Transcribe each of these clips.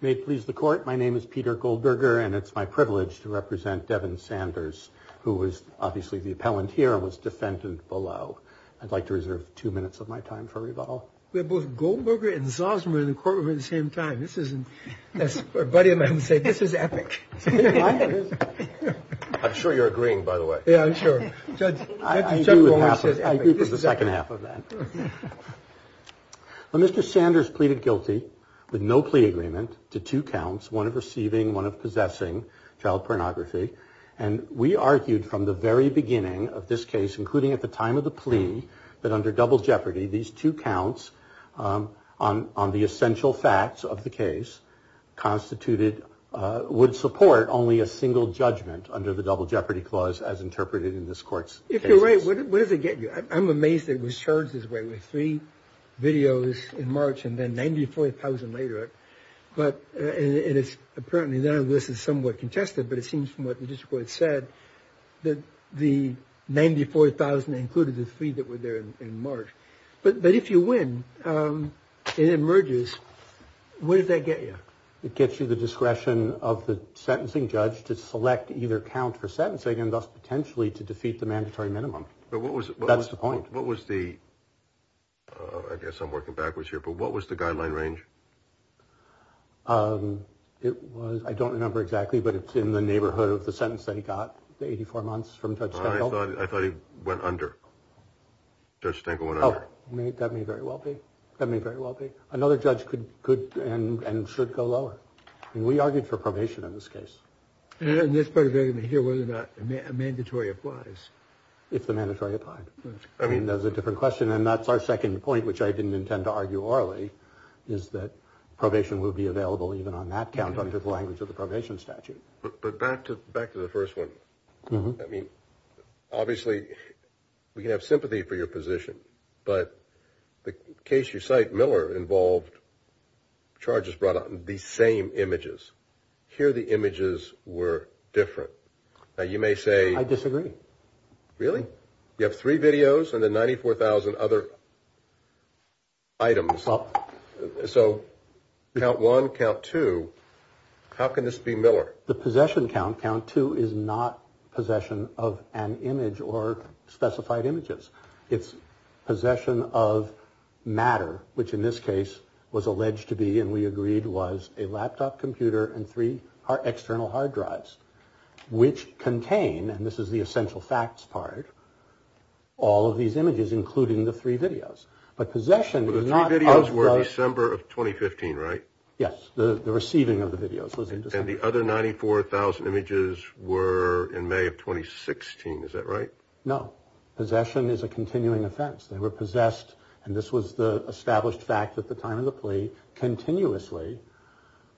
May it please the court. My name is Peter Goldberger, and it's my privilege to represent Devon Sanders, who was obviously the appellant here and was defendant below. I'd like to reserve two minutes of my time for rebuttal. We have both Goldberger and Zosmer in the I'm sure you're agreeing, by the way. Yeah, I'm sure. I agree with the second half of that. Mr. Sanders pleaded guilty with no plea agreement to two counts, one of receiving, one of possessing child pornography. And we argued from the very beginning of this case, including at the time of the plea, that under double jeopardy, these two counts on on the essential facts of the case constituted would support only a single judgment under the double jeopardy clause, as interpreted in this court's. If you're right, what does it get you? I'm amazed it was charged this way with three videos in March and then 94,000 later. But it is apparently none of this is somewhat contested. But it seems from what the district court said that the 94,000 included the three that were there in March. But but if you win, it emerges. What does that get you? It gets you the discretion of the sentencing judge to select either count for sentencing and thus potentially to defeat the mandatory minimum. But what was that's the point. What was the. I guess I'm working backwards here, but what was the guideline range? It was I don't remember exactly, but it's in the neighborhood of the sentence that he got the 84 months from touch. I thought I thought he went under. Judge Stengel went out. That may very well be. That may very well be another judge could could and should go lower. And we argued for probation in this case. And this part of it here, whether or not a mandatory applies, if the mandatory applied. I mean, there's a different question. And that's our second point, which I didn't intend to argue orally, is that probation will be available even on that count under the language of the probation statute. But back to back to the first one. I mean, obviously, we can have sympathy for your position, but the case you cite Miller involved charges brought on the same images here. The images were different. You may say I disagree. Really? You have three videos and the ninety four thousand other. Items, so count one, count two, how can this be Miller? The possession count count two is not possession of an image or specified images. It's possession of matter, which in this case was alleged to be, and we agreed was a laptop computer and three are external hard drives which contain and this is the essential facts part. All of these images, including the three videos, but possession is not December of 2015. Right. Yes. The receiving of the videos was in the other ninety four thousand images were in May of 2016. Is that right? No. Possession is a continuing offense. They were possessed. And this was the established fact at the time of the plea continuously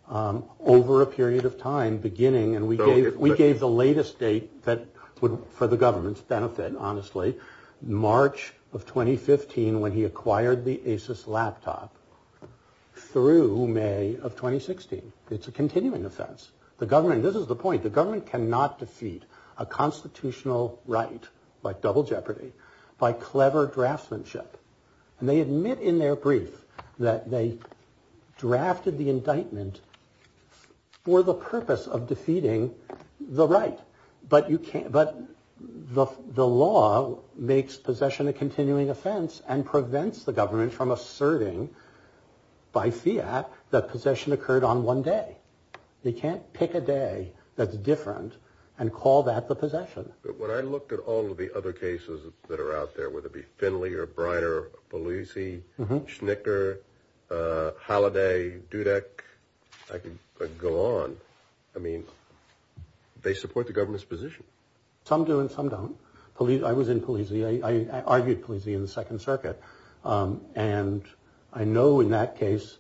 over a period of time beginning. And we gave we gave the latest date that would for the government's benefit. Honestly, March of 2015, when he acquired the laptop through May of 2016. It's a continuing offense. The government. This is the point. The government cannot defeat a constitutional right by double jeopardy, by clever draftsmanship. And they admit in their brief that they drafted the indictment for the purpose of defeating the right. But you can't. But the law makes possession a continuing offense and prevents the government from asserting. By Fiat, that possession occurred on one day. They can't pick a day that's different and call that the possession. But when I looked at all of the other cases that are out there, whether it be Finley or Briner, Polizzi, Schnicker, Holliday, Dudek, I could go on. I mean, they support the government's position. Some do and some don't. I was in Polizzi. I argued Polizzi in the Second Circuit. And I know in that case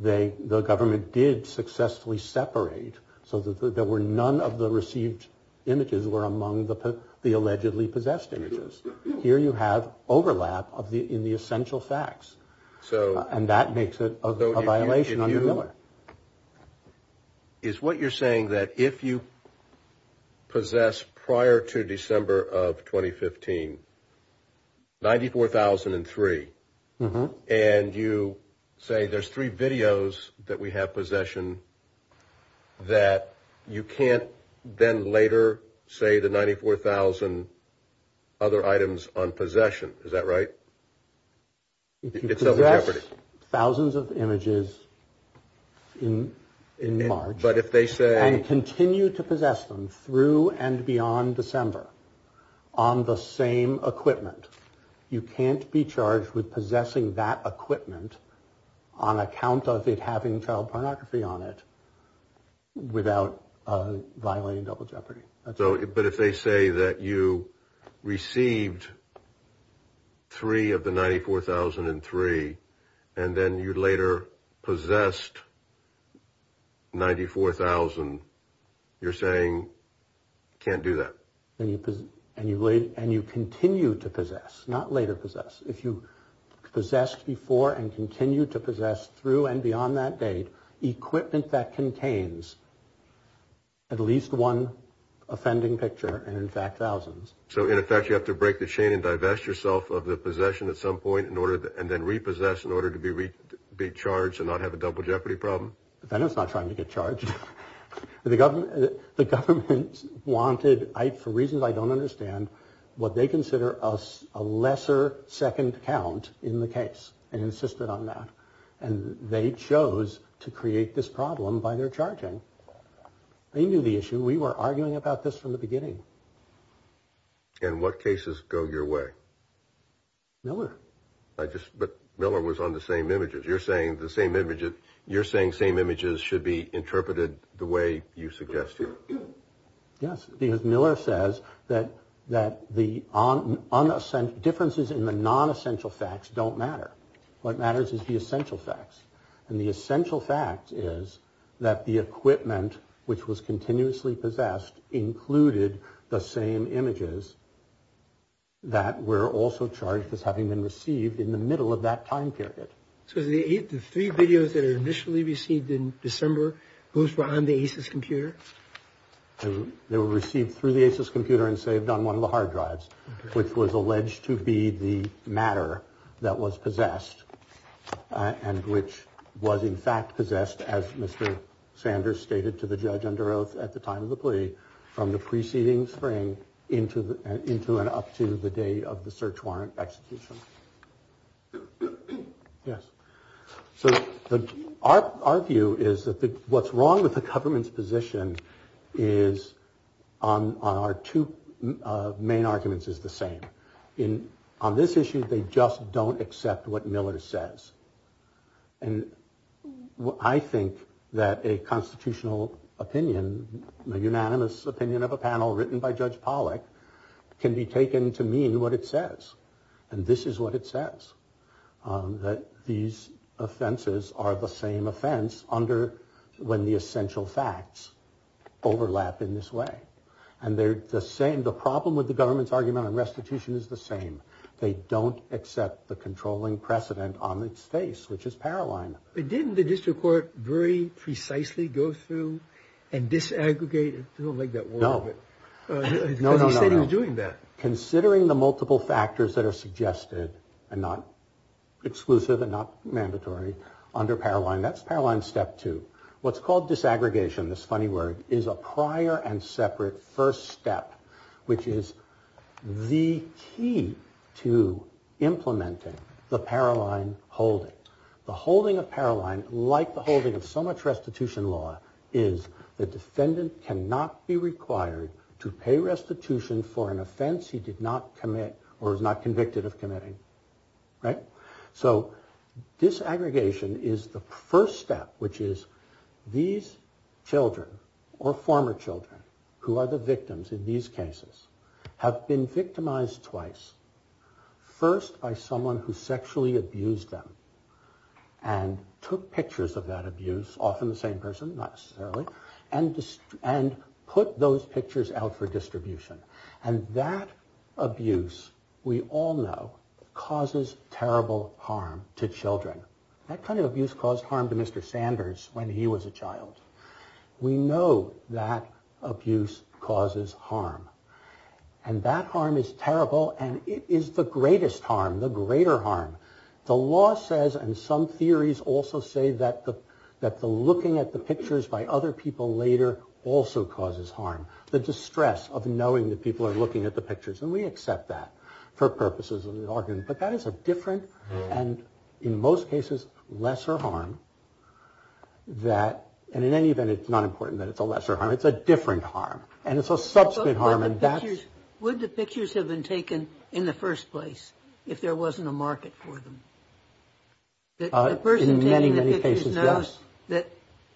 they the government did successfully separate so that there were none of the received images were among the allegedly possessed images. Here you have overlap of the in the essential facts. So and that makes it a violation on the Miller. Is what you're saying that if you possess prior to December of 2015. Ninety four thousand and three and you say there's three videos that we have possession that you can't then later say the ninety four thousand. And other items on possession. Is that right? It's thousands of images in in March. But if they say and continue to possess them through and beyond December on the same equipment, you can't be charged with possessing that equipment on account of it, having child pornography on it without violating double jeopardy. So but if they say that you received three of the ninety four thousand and three and then you later possessed ninety four thousand, you're saying you can't do that and you and you and you continue to possess, not later possess. If you possessed before and continue to possess through and beyond that date, equipment that contains at least one offending picture and in fact thousands. So in effect, you have to break the chain and divest yourself of the possession at some point in order and then repossess in order to be reached, be charged and not have a double jeopardy problem. Then it's not trying to get charged with the government. The government wanted I for reasons I don't understand what they consider us a lesser second count in the case and insisted on that. And they chose to create this problem by their charging. They knew the issue. We were arguing about this from the beginning. And what cases go your way? Miller, I just but Miller was on the same images. You're saying the same image. You're saying same images should be interpreted the way you suggest. Yes, because Miller says that that the on unassigned differences in the non essential facts don't matter. What matters is the essential facts. And the essential fact is that the equipment which was continuously possessed included the same images. That we're also charged with having been received in the middle of that time period. So the three videos that are initially received in December, those were on the computer. They were received through the computer and saved on one of the hard drives, which was alleged to be the matter that was possessed and which was, in fact, possessed, as Mr. Sanders stated to the judge under oath at the time of the plea from the preceding spring into the into and up to the day of the search warrant execution. Yes. So our our view is that what's wrong with the government's position is on our two main arguments is the same in on this issue. They just don't accept what Miller says. And I think that a constitutional opinion, a unanimous opinion of a panel written by Judge Pollack can be taken to mean what it says. And this is what it says, that these offenses are the same offense under when the essential facts overlap in this way. And they're the same. The problem with the government's argument on restitution is the same. They don't accept the controlling precedent on its face, which is Paroline. But didn't the district court very precisely go through and disaggregate it like that? No, no, no, no, no. Considering the multiple factors that are suggested and not exclusive and not mandatory under Paroline, that's Paroline step two. What's called disaggregation. This funny word is a prior and separate first step, which is the key to implementing the Paroline holding. The holding of Paroline, like the holding of so much restitution law, is the defendant cannot be required to pay restitution for an offense he did not commit or was not convicted of committing. Right. So disaggregation is the first step, which is these children or former children who are the victims in these cases have been victimized twice. First, by someone who sexually abused them and took pictures of that abuse, often the same person, not necessarily, and put those pictures out for distribution. And that abuse, we all know, causes terrible harm to children. That kind of abuse caused harm to Mr. Sanders when he was a child. We know that abuse causes harm and that harm is terrible and it is the greatest harm, the greater harm. The law says, and some theories also say, that the looking at the pictures by other people later also causes harm. The distress of knowing that people are looking at the pictures. And we accept that for purposes of the argument. But that is a different and in most cases, lesser harm that and in any event, it's not important that it's a lesser harm. It's a different harm. And it's a subsequent harm. And that's what the pictures have been taken in the first place. If there wasn't a market for them, the person in many, many cases knows that,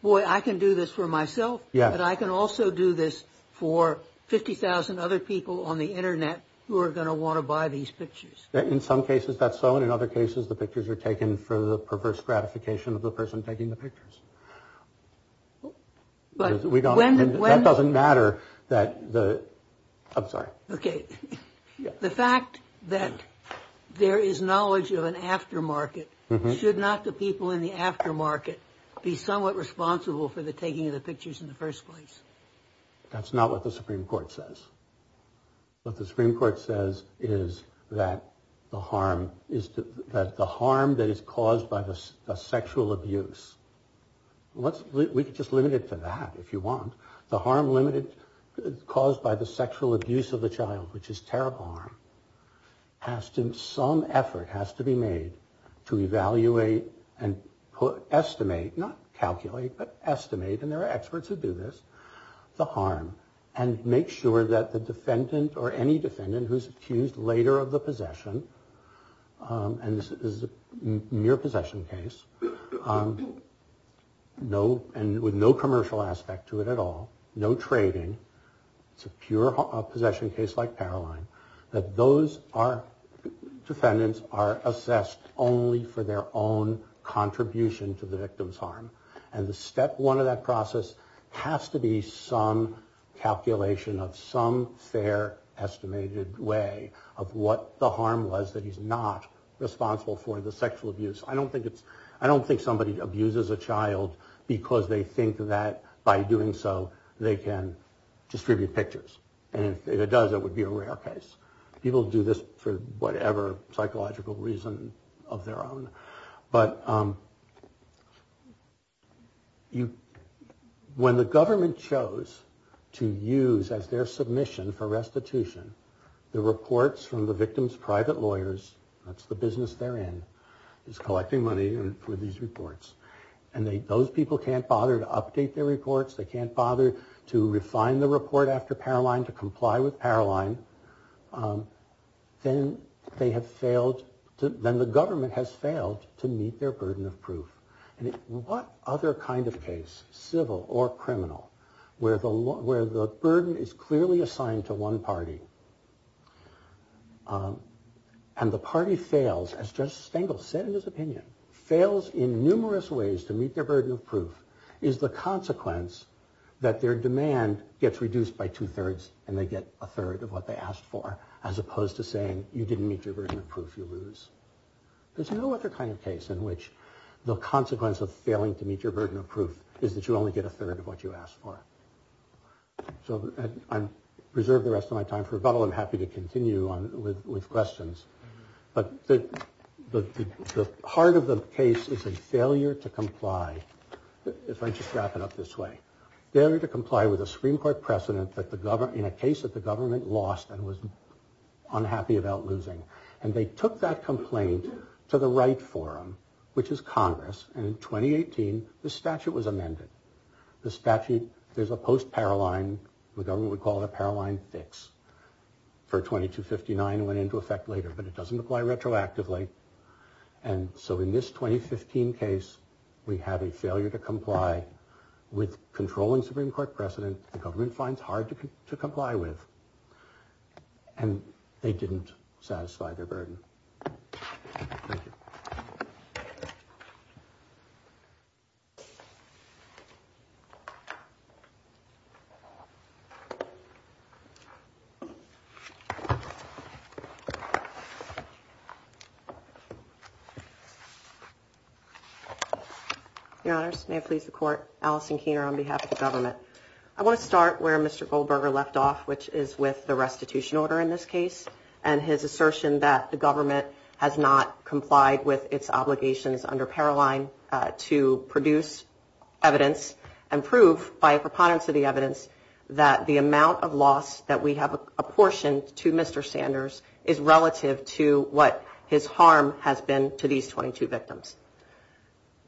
boy, I can do this for myself. Yeah, but I can also do this for 50,000 other people on the Internet who are going to want to buy these pictures. In some cases, that's so. And in other cases, the pictures are taken for the perverse gratification of the person taking the pictures. But we don't win. It doesn't matter that the I'm sorry. OK. The fact that there is knowledge of an aftermarket should not the people in the aftermarket be somewhat responsible for the taking of the pictures in the first place. That's not what the Supreme Court says. But the Supreme Court says is that the harm is that the harm that is caused by the sexual abuse. What's just limited to that, if you want the harm limited caused by the sexual abuse of the child, which is terrible. Has to some effort has to be made to evaluate and put estimate, not calculate, but estimate. And there are experts who do this, the harm and make sure that the defendant or any defendant who's accused later of the possession. And this is a mere possession case. No. And with no commercial aspect to it at all. No trading. It's a pure possession case like Caroline, that those are defendants are assessed only for their own contribution to the victim's harm. And the step one of that process has to be some calculation of some fair estimated way of what the harm was that he's not responsible for the sexual abuse. I don't think it's I don't think somebody abuses a child because they think that by doing so they can distribute pictures. And if it does, it would be a rare case. People do this for whatever psychological reason of their own. But. You when the government chose to use as their submission for restitution, the reports from the victim's private lawyers, that's the business they're in, is collecting money for these reports. And those people can't bother to update their reports. They can't bother to refine the report after Caroline to comply with Caroline. Then they have failed to then the government has failed to meet their burden of proof. And what other kind of case, civil or criminal, where the where the burden is clearly assigned to one party. And the party fails, as Judge Stengel said in his opinion, fails in numerous ways to meet their burden of proof is the consequence that their demand gets reduced by two thirds. And they get a third of what they asked for, as opposed to saying, you didn't meet your burden of proof. You lose. There's no other kind of case in which the consequence of failing to meet your burden of proof is that you only get a third of what you asked for. So I'm reserve the rest of my time for rebuttal. I'm happy to continue on with questions. But the heart of the case is a failure to comply. If I just wrap it up this way, they were to comply with a Supreme Court precedent that the government in a case that the government lost and was unhappy about losing. And they took that complaint to the right forum, which is Congress. And in 2018, the statute was amended. The statute, there's a post-Caroline, the government would call it a Caroline fix for 2259 went into effect later, but it doesn't apply retroactively. And so in this 2015 case, we have a failure to comply with controlling Supreme Court precedent. The government finds hard to comply with and they didn't satisfy their burden. Your Honor's may please the court. Allison Keener, on behalf of the government, I want to start where Mr Goldberger left off, which is with the restitution order in this case and his assertion that the government has not complied with its obligations under Caroline to produce evidence and prove by preponderance of the evidence that the amount of loss that we have apportioned to Mr. Sanders is relative to what his harm has been to these 22 victims.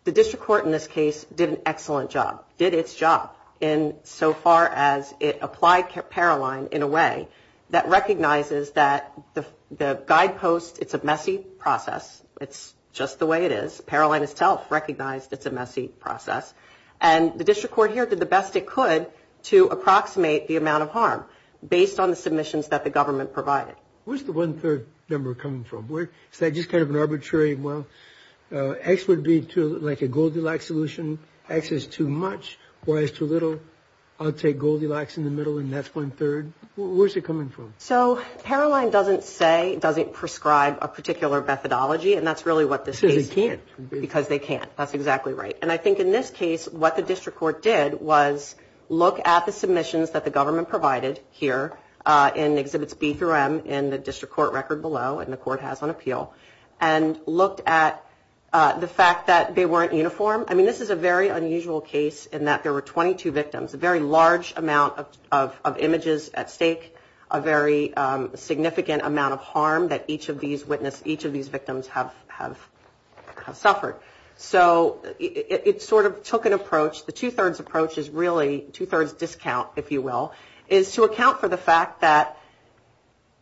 The district court in this case did an excellent job, did its job in so far as it applied Caroline in a way that recognizes that the guidepost, it's a messy process, it's just the way it is, Caroline itself recognized it's a messy process. And the district court here did the best it could to approximate the amount of harm based on the submissions that the government provided. Where's the one third number coming from? Where is that just kind of an arbitrary? Well, X would be like a Goldilocks solution. X is too much, Y is too little. I'll take Goldilocks in the middle and that's one third. Where's it coming from? So Caroline doesn't say, doesn't prescribe a particular methodology. And that's really what this is because they can't. That's exactly right. And I think in this case what the district court did was look at the submissions that the government provided here in exhibits B through M in the district court record below, and the court has on appeal, and looked at the fact that they weren't uniform. I mean, this is a very unusual case in that there were 22 victims, a very large amount of images at stake, a very significant amount of harm that each of these victims have suffered. So it sort of took an approach, the two thirds approach is really two thirds discount, if you will, is to account for the fact that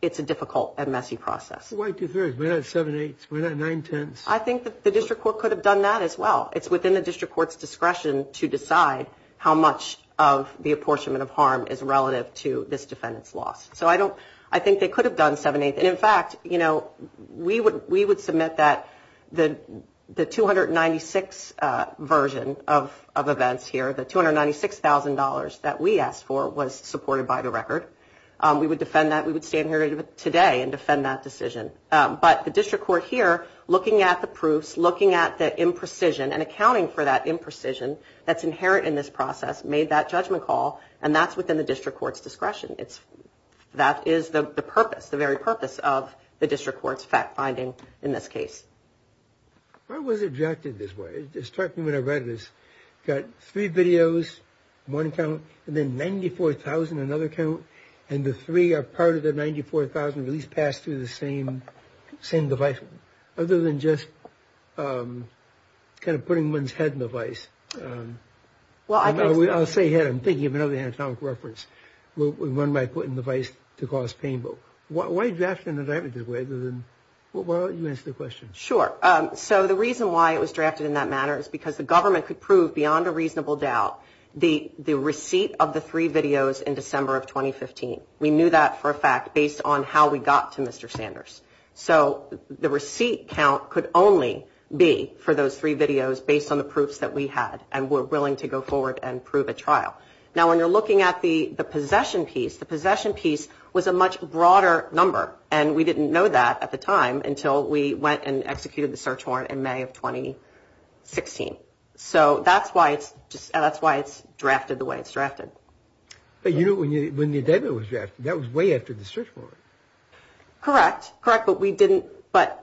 it's a difficult and messy process. Why two thirds? We're not seven eighths, we're not nine tenths. I think that the district court could have done that as well. It's within the district court's discretion to decide how much of the apportionment of harm is relative to this defendant's loss. So I don't, I think they could have done seven eighths. And in fact, you know, we would submit that the 296 version of events here, the $296,000 that we asked for was supported by the record. We would defend that, we would stand here today and defend that decision. But the district court here, looking at the proofs, looking at the imprecision and accounting for that imprecision that's inherent in this process made that judgment call, and that's within the district court's discretion. It's, that is the purpose, the very purpose of the district court's finding in this case. I was objected this way. It struck me when I read this. Got three videos, one count, and then $94,000, another count, and the three are part of the $94,000 at least passed through the same device. Other than just kind of putting one's head in the vice. Well, I'll say head, I'm thinking of another anatomic reference. We run by putting the vice to cause pain, but why are you drafting it that way other than, why don't you answer the question? Sure. So the reason why it was drafted in that manner is because the government could prove beyond a reasonable doubt the receipt of the three videos in December of 2015. We knew that for a fact based on how we got to Mr. Sanders. So the receipt count could only be for those three videos based on the proofs that we had, and we're willing to go forward and prove a trial. Now, when you're looking at the possession piece, the possession piece was a much broader number, and we didn't know that at the time until we went and executed the search warrant in May of 2016. So that's why it's drafted the way it's drafted. But you knew when the indictment was drafted, that was way after the search warrant. Correct, correct. But we didn't, but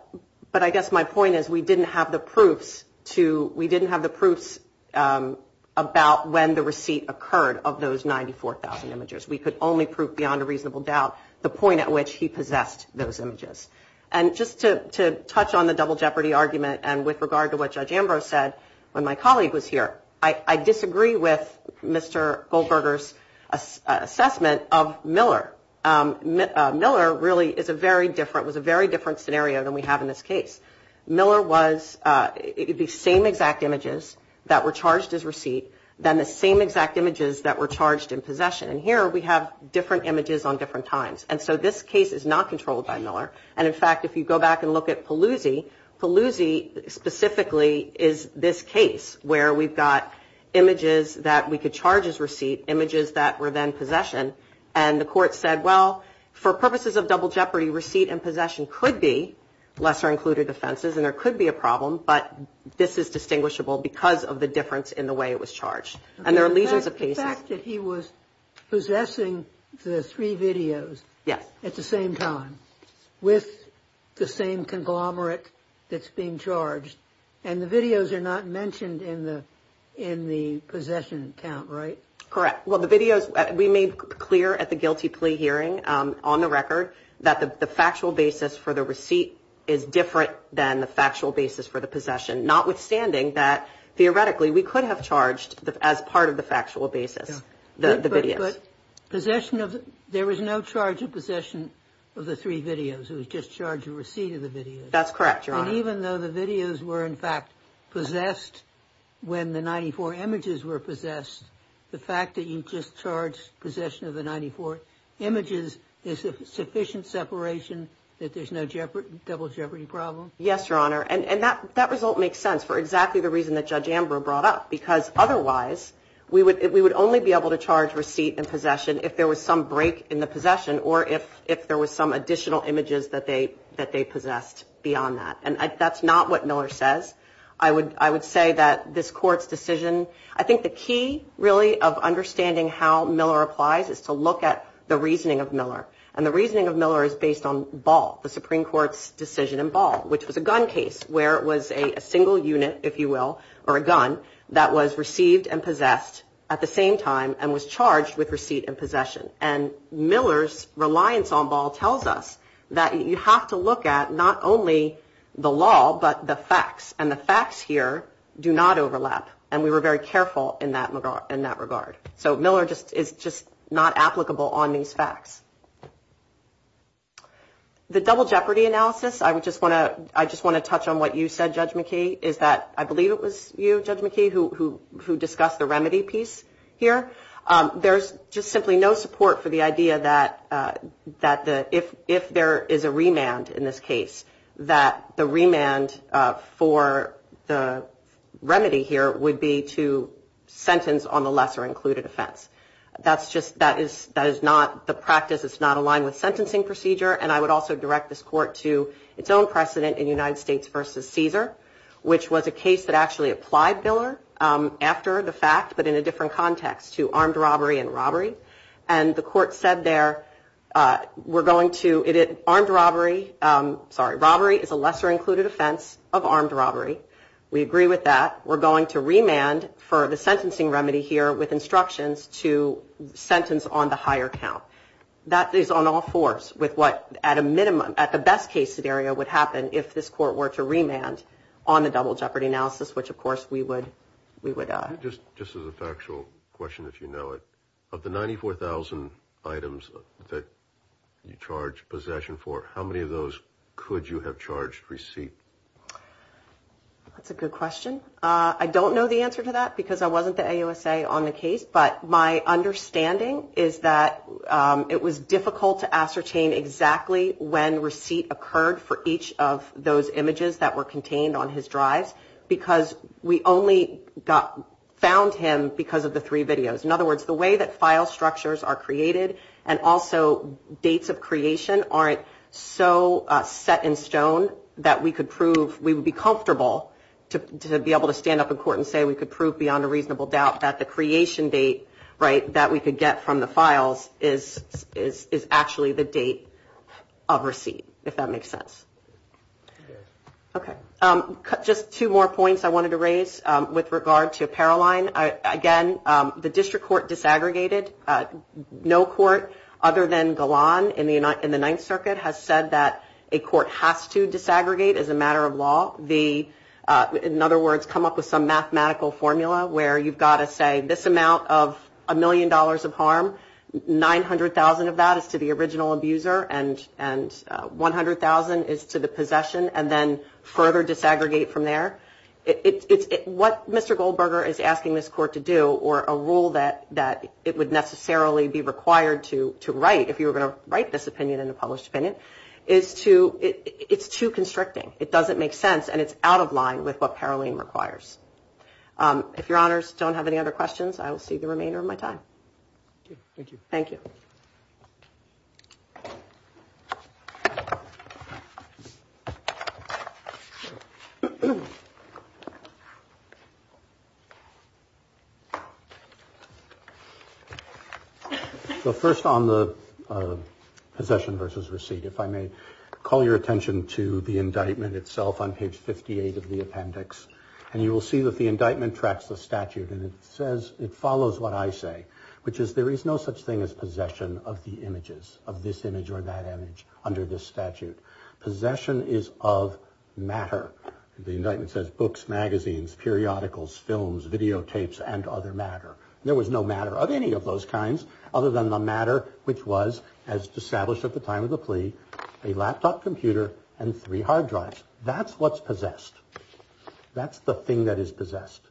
I guess my point is we didn't have the proofs to, we didn't have the proofs about when the receipt occurred of those 94,000 images. We could only prove beyond a reasonable doubt the point at which he possessed those images. And just to touch on the double jeopardy argument and with regard to what Judge Ambrose said when my colleague was here, I disagree with Mr. Goldberger's assessment of Miller. Miller really is a very different, was a very different scenario than we have in this case. Miller was, it would be the same exact images that were charged as receipt than the same exact images that were charged in possession. And here we have different images on different times. And so this case is not controlled by Miller. And in fact, if you go back and look at Pelosi, Pelosi specifically is this case where we've got images that we could charge as receipt, images that were then possession. And the court said, well, for purposes of double jeopardy, receipt and possession could be lesser included offenses. And there could be a problem, but this is distinguishable because of the difference in the way it was charged. And there are legions of cases. The fact that he was possessing the three videos at the same time with the same conglomerate that's being charged. And the videos are not mentioned in the possession count, right? Correct. Well, the videos we made clear at the guilty plea hearing on the record that the factual basis for the receipt is different than the factual basis for the possession. Notwithstanding that, theoretically, we could have charged as part of the factual basis, the video possession of there was no charge of possession of the three videos. It was just charge a receipt of the video. That's correct. And even though the videos were, in fact, possessed when the 94 images were possessed, the fact that you just charged possession of the 94 images is sufficient separation that there's no jeopardy, double jeopardy problem. Yes, your honor. And that result makes sense for exactly the reason that Judge Ambrose brought up, because otherwise we would only be able to charge receipt and possession if there was some break in the possession or if there was some additional images that they possessed beyond that. And that's not what Miller says. I would say that this court's decision, I think the key really of understanding how Miller applies is to look at the reasoning of Miller. And the reasoning of Miller is based on Ball, the Supreme Court's decision in Ball, which was a gun case where it was a single unit, if you will, or a gun that was received and possessed at the same time and was charged with receipt and possession. And Miller's reliance on Ball tells us that you have to look at not only the law, but the facts and the facts here do not overlap. And we were very careful in that regard. So Miller is just not applicable on these facts. The double jeopardy analysis, I just want to touch on what you said, Judge McKee, is that I believe it was you, Judge McKee, who discussed the remedy piece here. There's just simply no support for the idea that if there is a remand in this case, that the remand for the remedy here would be to sentence on the lesser included offense. That's just, that is not the practice, it's not aligned with sentencing procedure. And I would also direct this Court to its own precedent in United States v. Caesar, which was a case that actually applied Miller after the fact, but in a different context to armed robbery and robbery. And the Court said there, we're going to, armed robbery, sorry, robbery is a lesser included offense of armed robbery. We agree with that. We're going to remand for the sentencing remedy here with instructions to sentence on the higher count. That is on all fours with what, at a minimum, at the best case scenario, would happen if this Court were to remand on the double jeopardy analysis, which of course we would, we would. Just, just as a factual question, if you know it, of the 94,000 items that you charge possession for, how many of those could you have charged receipt? That's a good question. I don't know the answer to that because I wasn't the AUSA on the case. But my understanding is that it was difficult to ascertain exactly when receipt occurred for each of those images that were contained on his drives because we only got, found him because of the three videos. In other words, the way that file structures are created and also dates of creation aren't so set in stone that we could prove, we would be comfortable to be able to stand up in court and say we could prove beyond a reasonable doubt that the creation date, right, that we could get from the files is, is, is actually the date of receipt, if that makes sense. Okay, just two more points I wanted to raise with regard to Paroline. Again, the district court disaggregated. No court other than Golan in the United, in the Ninth Circuit has said that a court has to disaggregate as a matter of law. The, in other words, come up with some mathematical formula where you've got to say this amount of a million dollars of harm, 900,000 of that is to the original abuser and, and 100,000 is to the possession and then further disaggregate from there. It's, it's, it, what Mr. Goldberger is asking this court to do or a rule that, that it would necessarily be required to, to write if you were going to write this opinion in a published opinion is to, it's too constricting. It doesn't make sense and it's out of line with what Paroline requires. If your honors don't have any other questions, I will see the remainder of my time. Thank you. So first on the possession versus receipt, if I may call your attention to the indictment itself on page 58 of the appendix and you will see that the indictment tracks the statute and it says it follows what I say, which is there is no such thing as possession of the images of this image or that image under the statute. Possession is of matter. The indictment says books, magazines, periodicals, films, videotapes, and other matter. There was no matter of any of those kinds other than the matter, which was as established at the time of the plea, a laptop computer and three hard drives. That's what's possessed. That's the thing that is possessed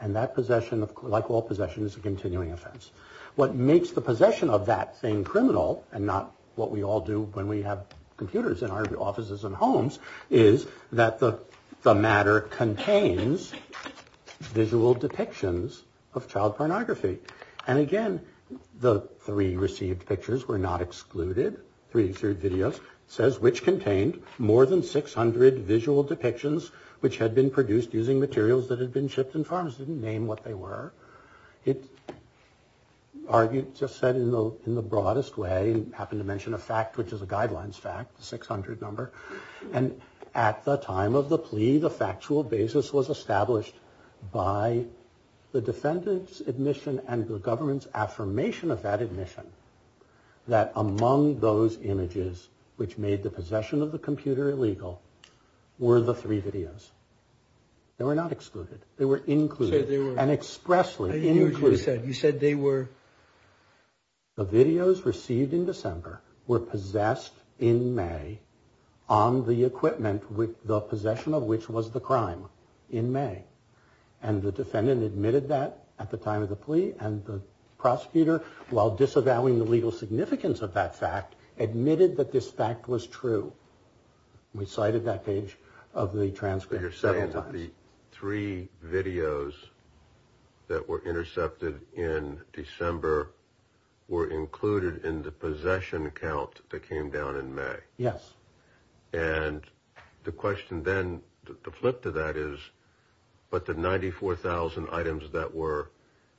and that possession of, like all possessions, a continuing offense. What makes the possession of that thing criminal and not what we all do when we have computers in our offices and homes is that the matter contains visual depictions of child pornography. And again, the three received pictures were not excluded. Three videos says which contained more than 600 visual depictions which had been produced using materials that had been shipped and farms didn't name what they were. It just said in the broadest way and happened to mention a fact, which is a guidelines fact, 600 number. And at the time of the plea, the factual basis was established by the defendant's admission and the government's affirmation of that admission that among those images which made the possession of the computer illegal were the three videos. They were not excluded. They were included and expressly said you said they were. The videos received in December were possessed in May on the equipment with the possession of which was the crime in May. And the defendant admitted that at the time of the plea and the prosecutor, while disavowing the legal significance of that fact, admitted that this fact was true. We cited that page of the transcript several times. The three videos that were intercepted in December were included in the possession account that came down in May. Yes. And the question then to flip to that is, but the 94000 items that were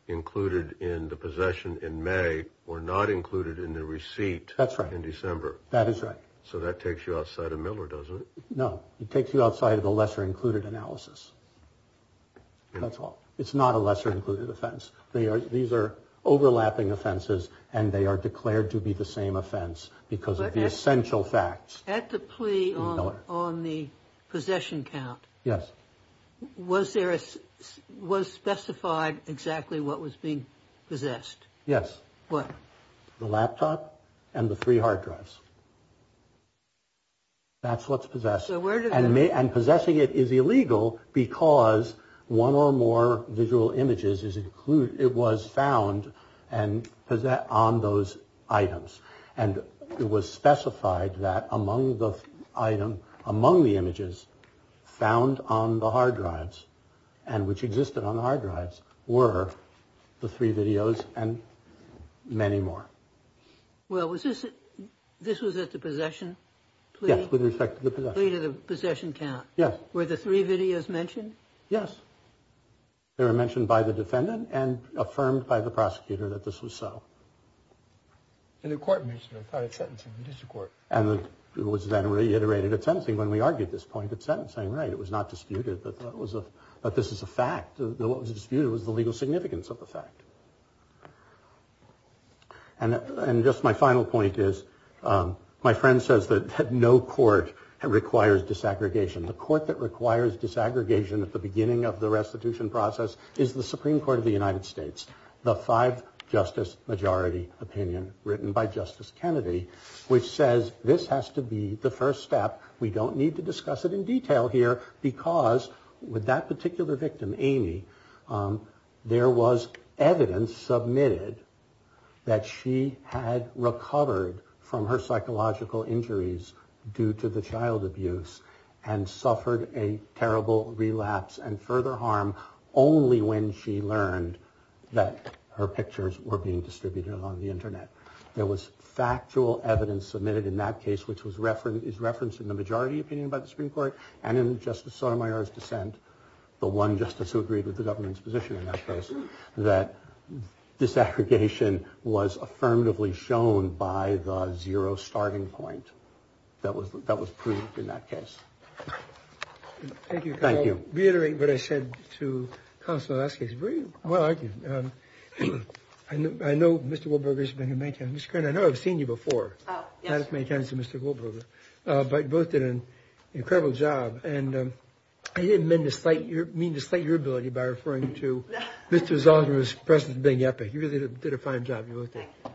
included in the possession in May were not included in the receipt. That's right. In December. That is right. So that takes you outside of Miller, doesn't it? No, it takes you outside of the lesser included analysis. That's all. It's not a lesser included offense. They are. These are overlapping offenses and they are declared to be the same offense because of the essential facts at the plea on the possession count. Yes. Was there was specified exactly what was being possessed? Yes. What? The laptop and the three hard drives. That's what's possessed and possessing it is illegal because one or more visual images is included, it was found and on those items and it was specified that among the item, among the images found on the hard drives and which existed on the hard drives were the three videos and many more. Well, was this this was at the possession with respect to the possession count? Yes. Were the three videos mentioned? Yes. They were mentioned by the defendant and affirmed by the prosecutor that this was so. And the court mentioned a sentence in the district court. And it was then reiterated. It's something when we argued this point that sentence saying, right, it was not disputed, but that was a but this is a fact that what was disputed was the legal significance of the fact. And just my final point is my friend says that no court requires disaggregation. The court that requires disaggregation at the beginning of the restitution process is the Supreme Court of the United States. The five justice majority opinion written by Justice Kennedy, which says this has to be the first step. We don't need to discuss it in detail here because with that particular victim, Amy, there was evidence submitted that she had recovered from her psychological injuries due to the child abuse and suffered a terrible relapse and further harm only when she learned that her pictures were being distributed on the Internet. There was factual evidence submitted in that case, which was reference is referenced in the majority opinion by the Supreme Court and in Justice Sotomayor's dissent. The one justice who agreed with the government's position in that case that disaggregation was affirmatively shown by the zero starting point that was that was proved in that case. Thank you. Thank you. Reiterate what I said to the last case. Well, I know Mr. Wilberger's been in my town. Mr. Kern, I know I've seen you before. Oh, yes. Many times, Mr. Wilberger, but both did an incredible job. And I didn't mean to slight your ability by referring to Mr. Zolder's presence being epic. You really did a fine job.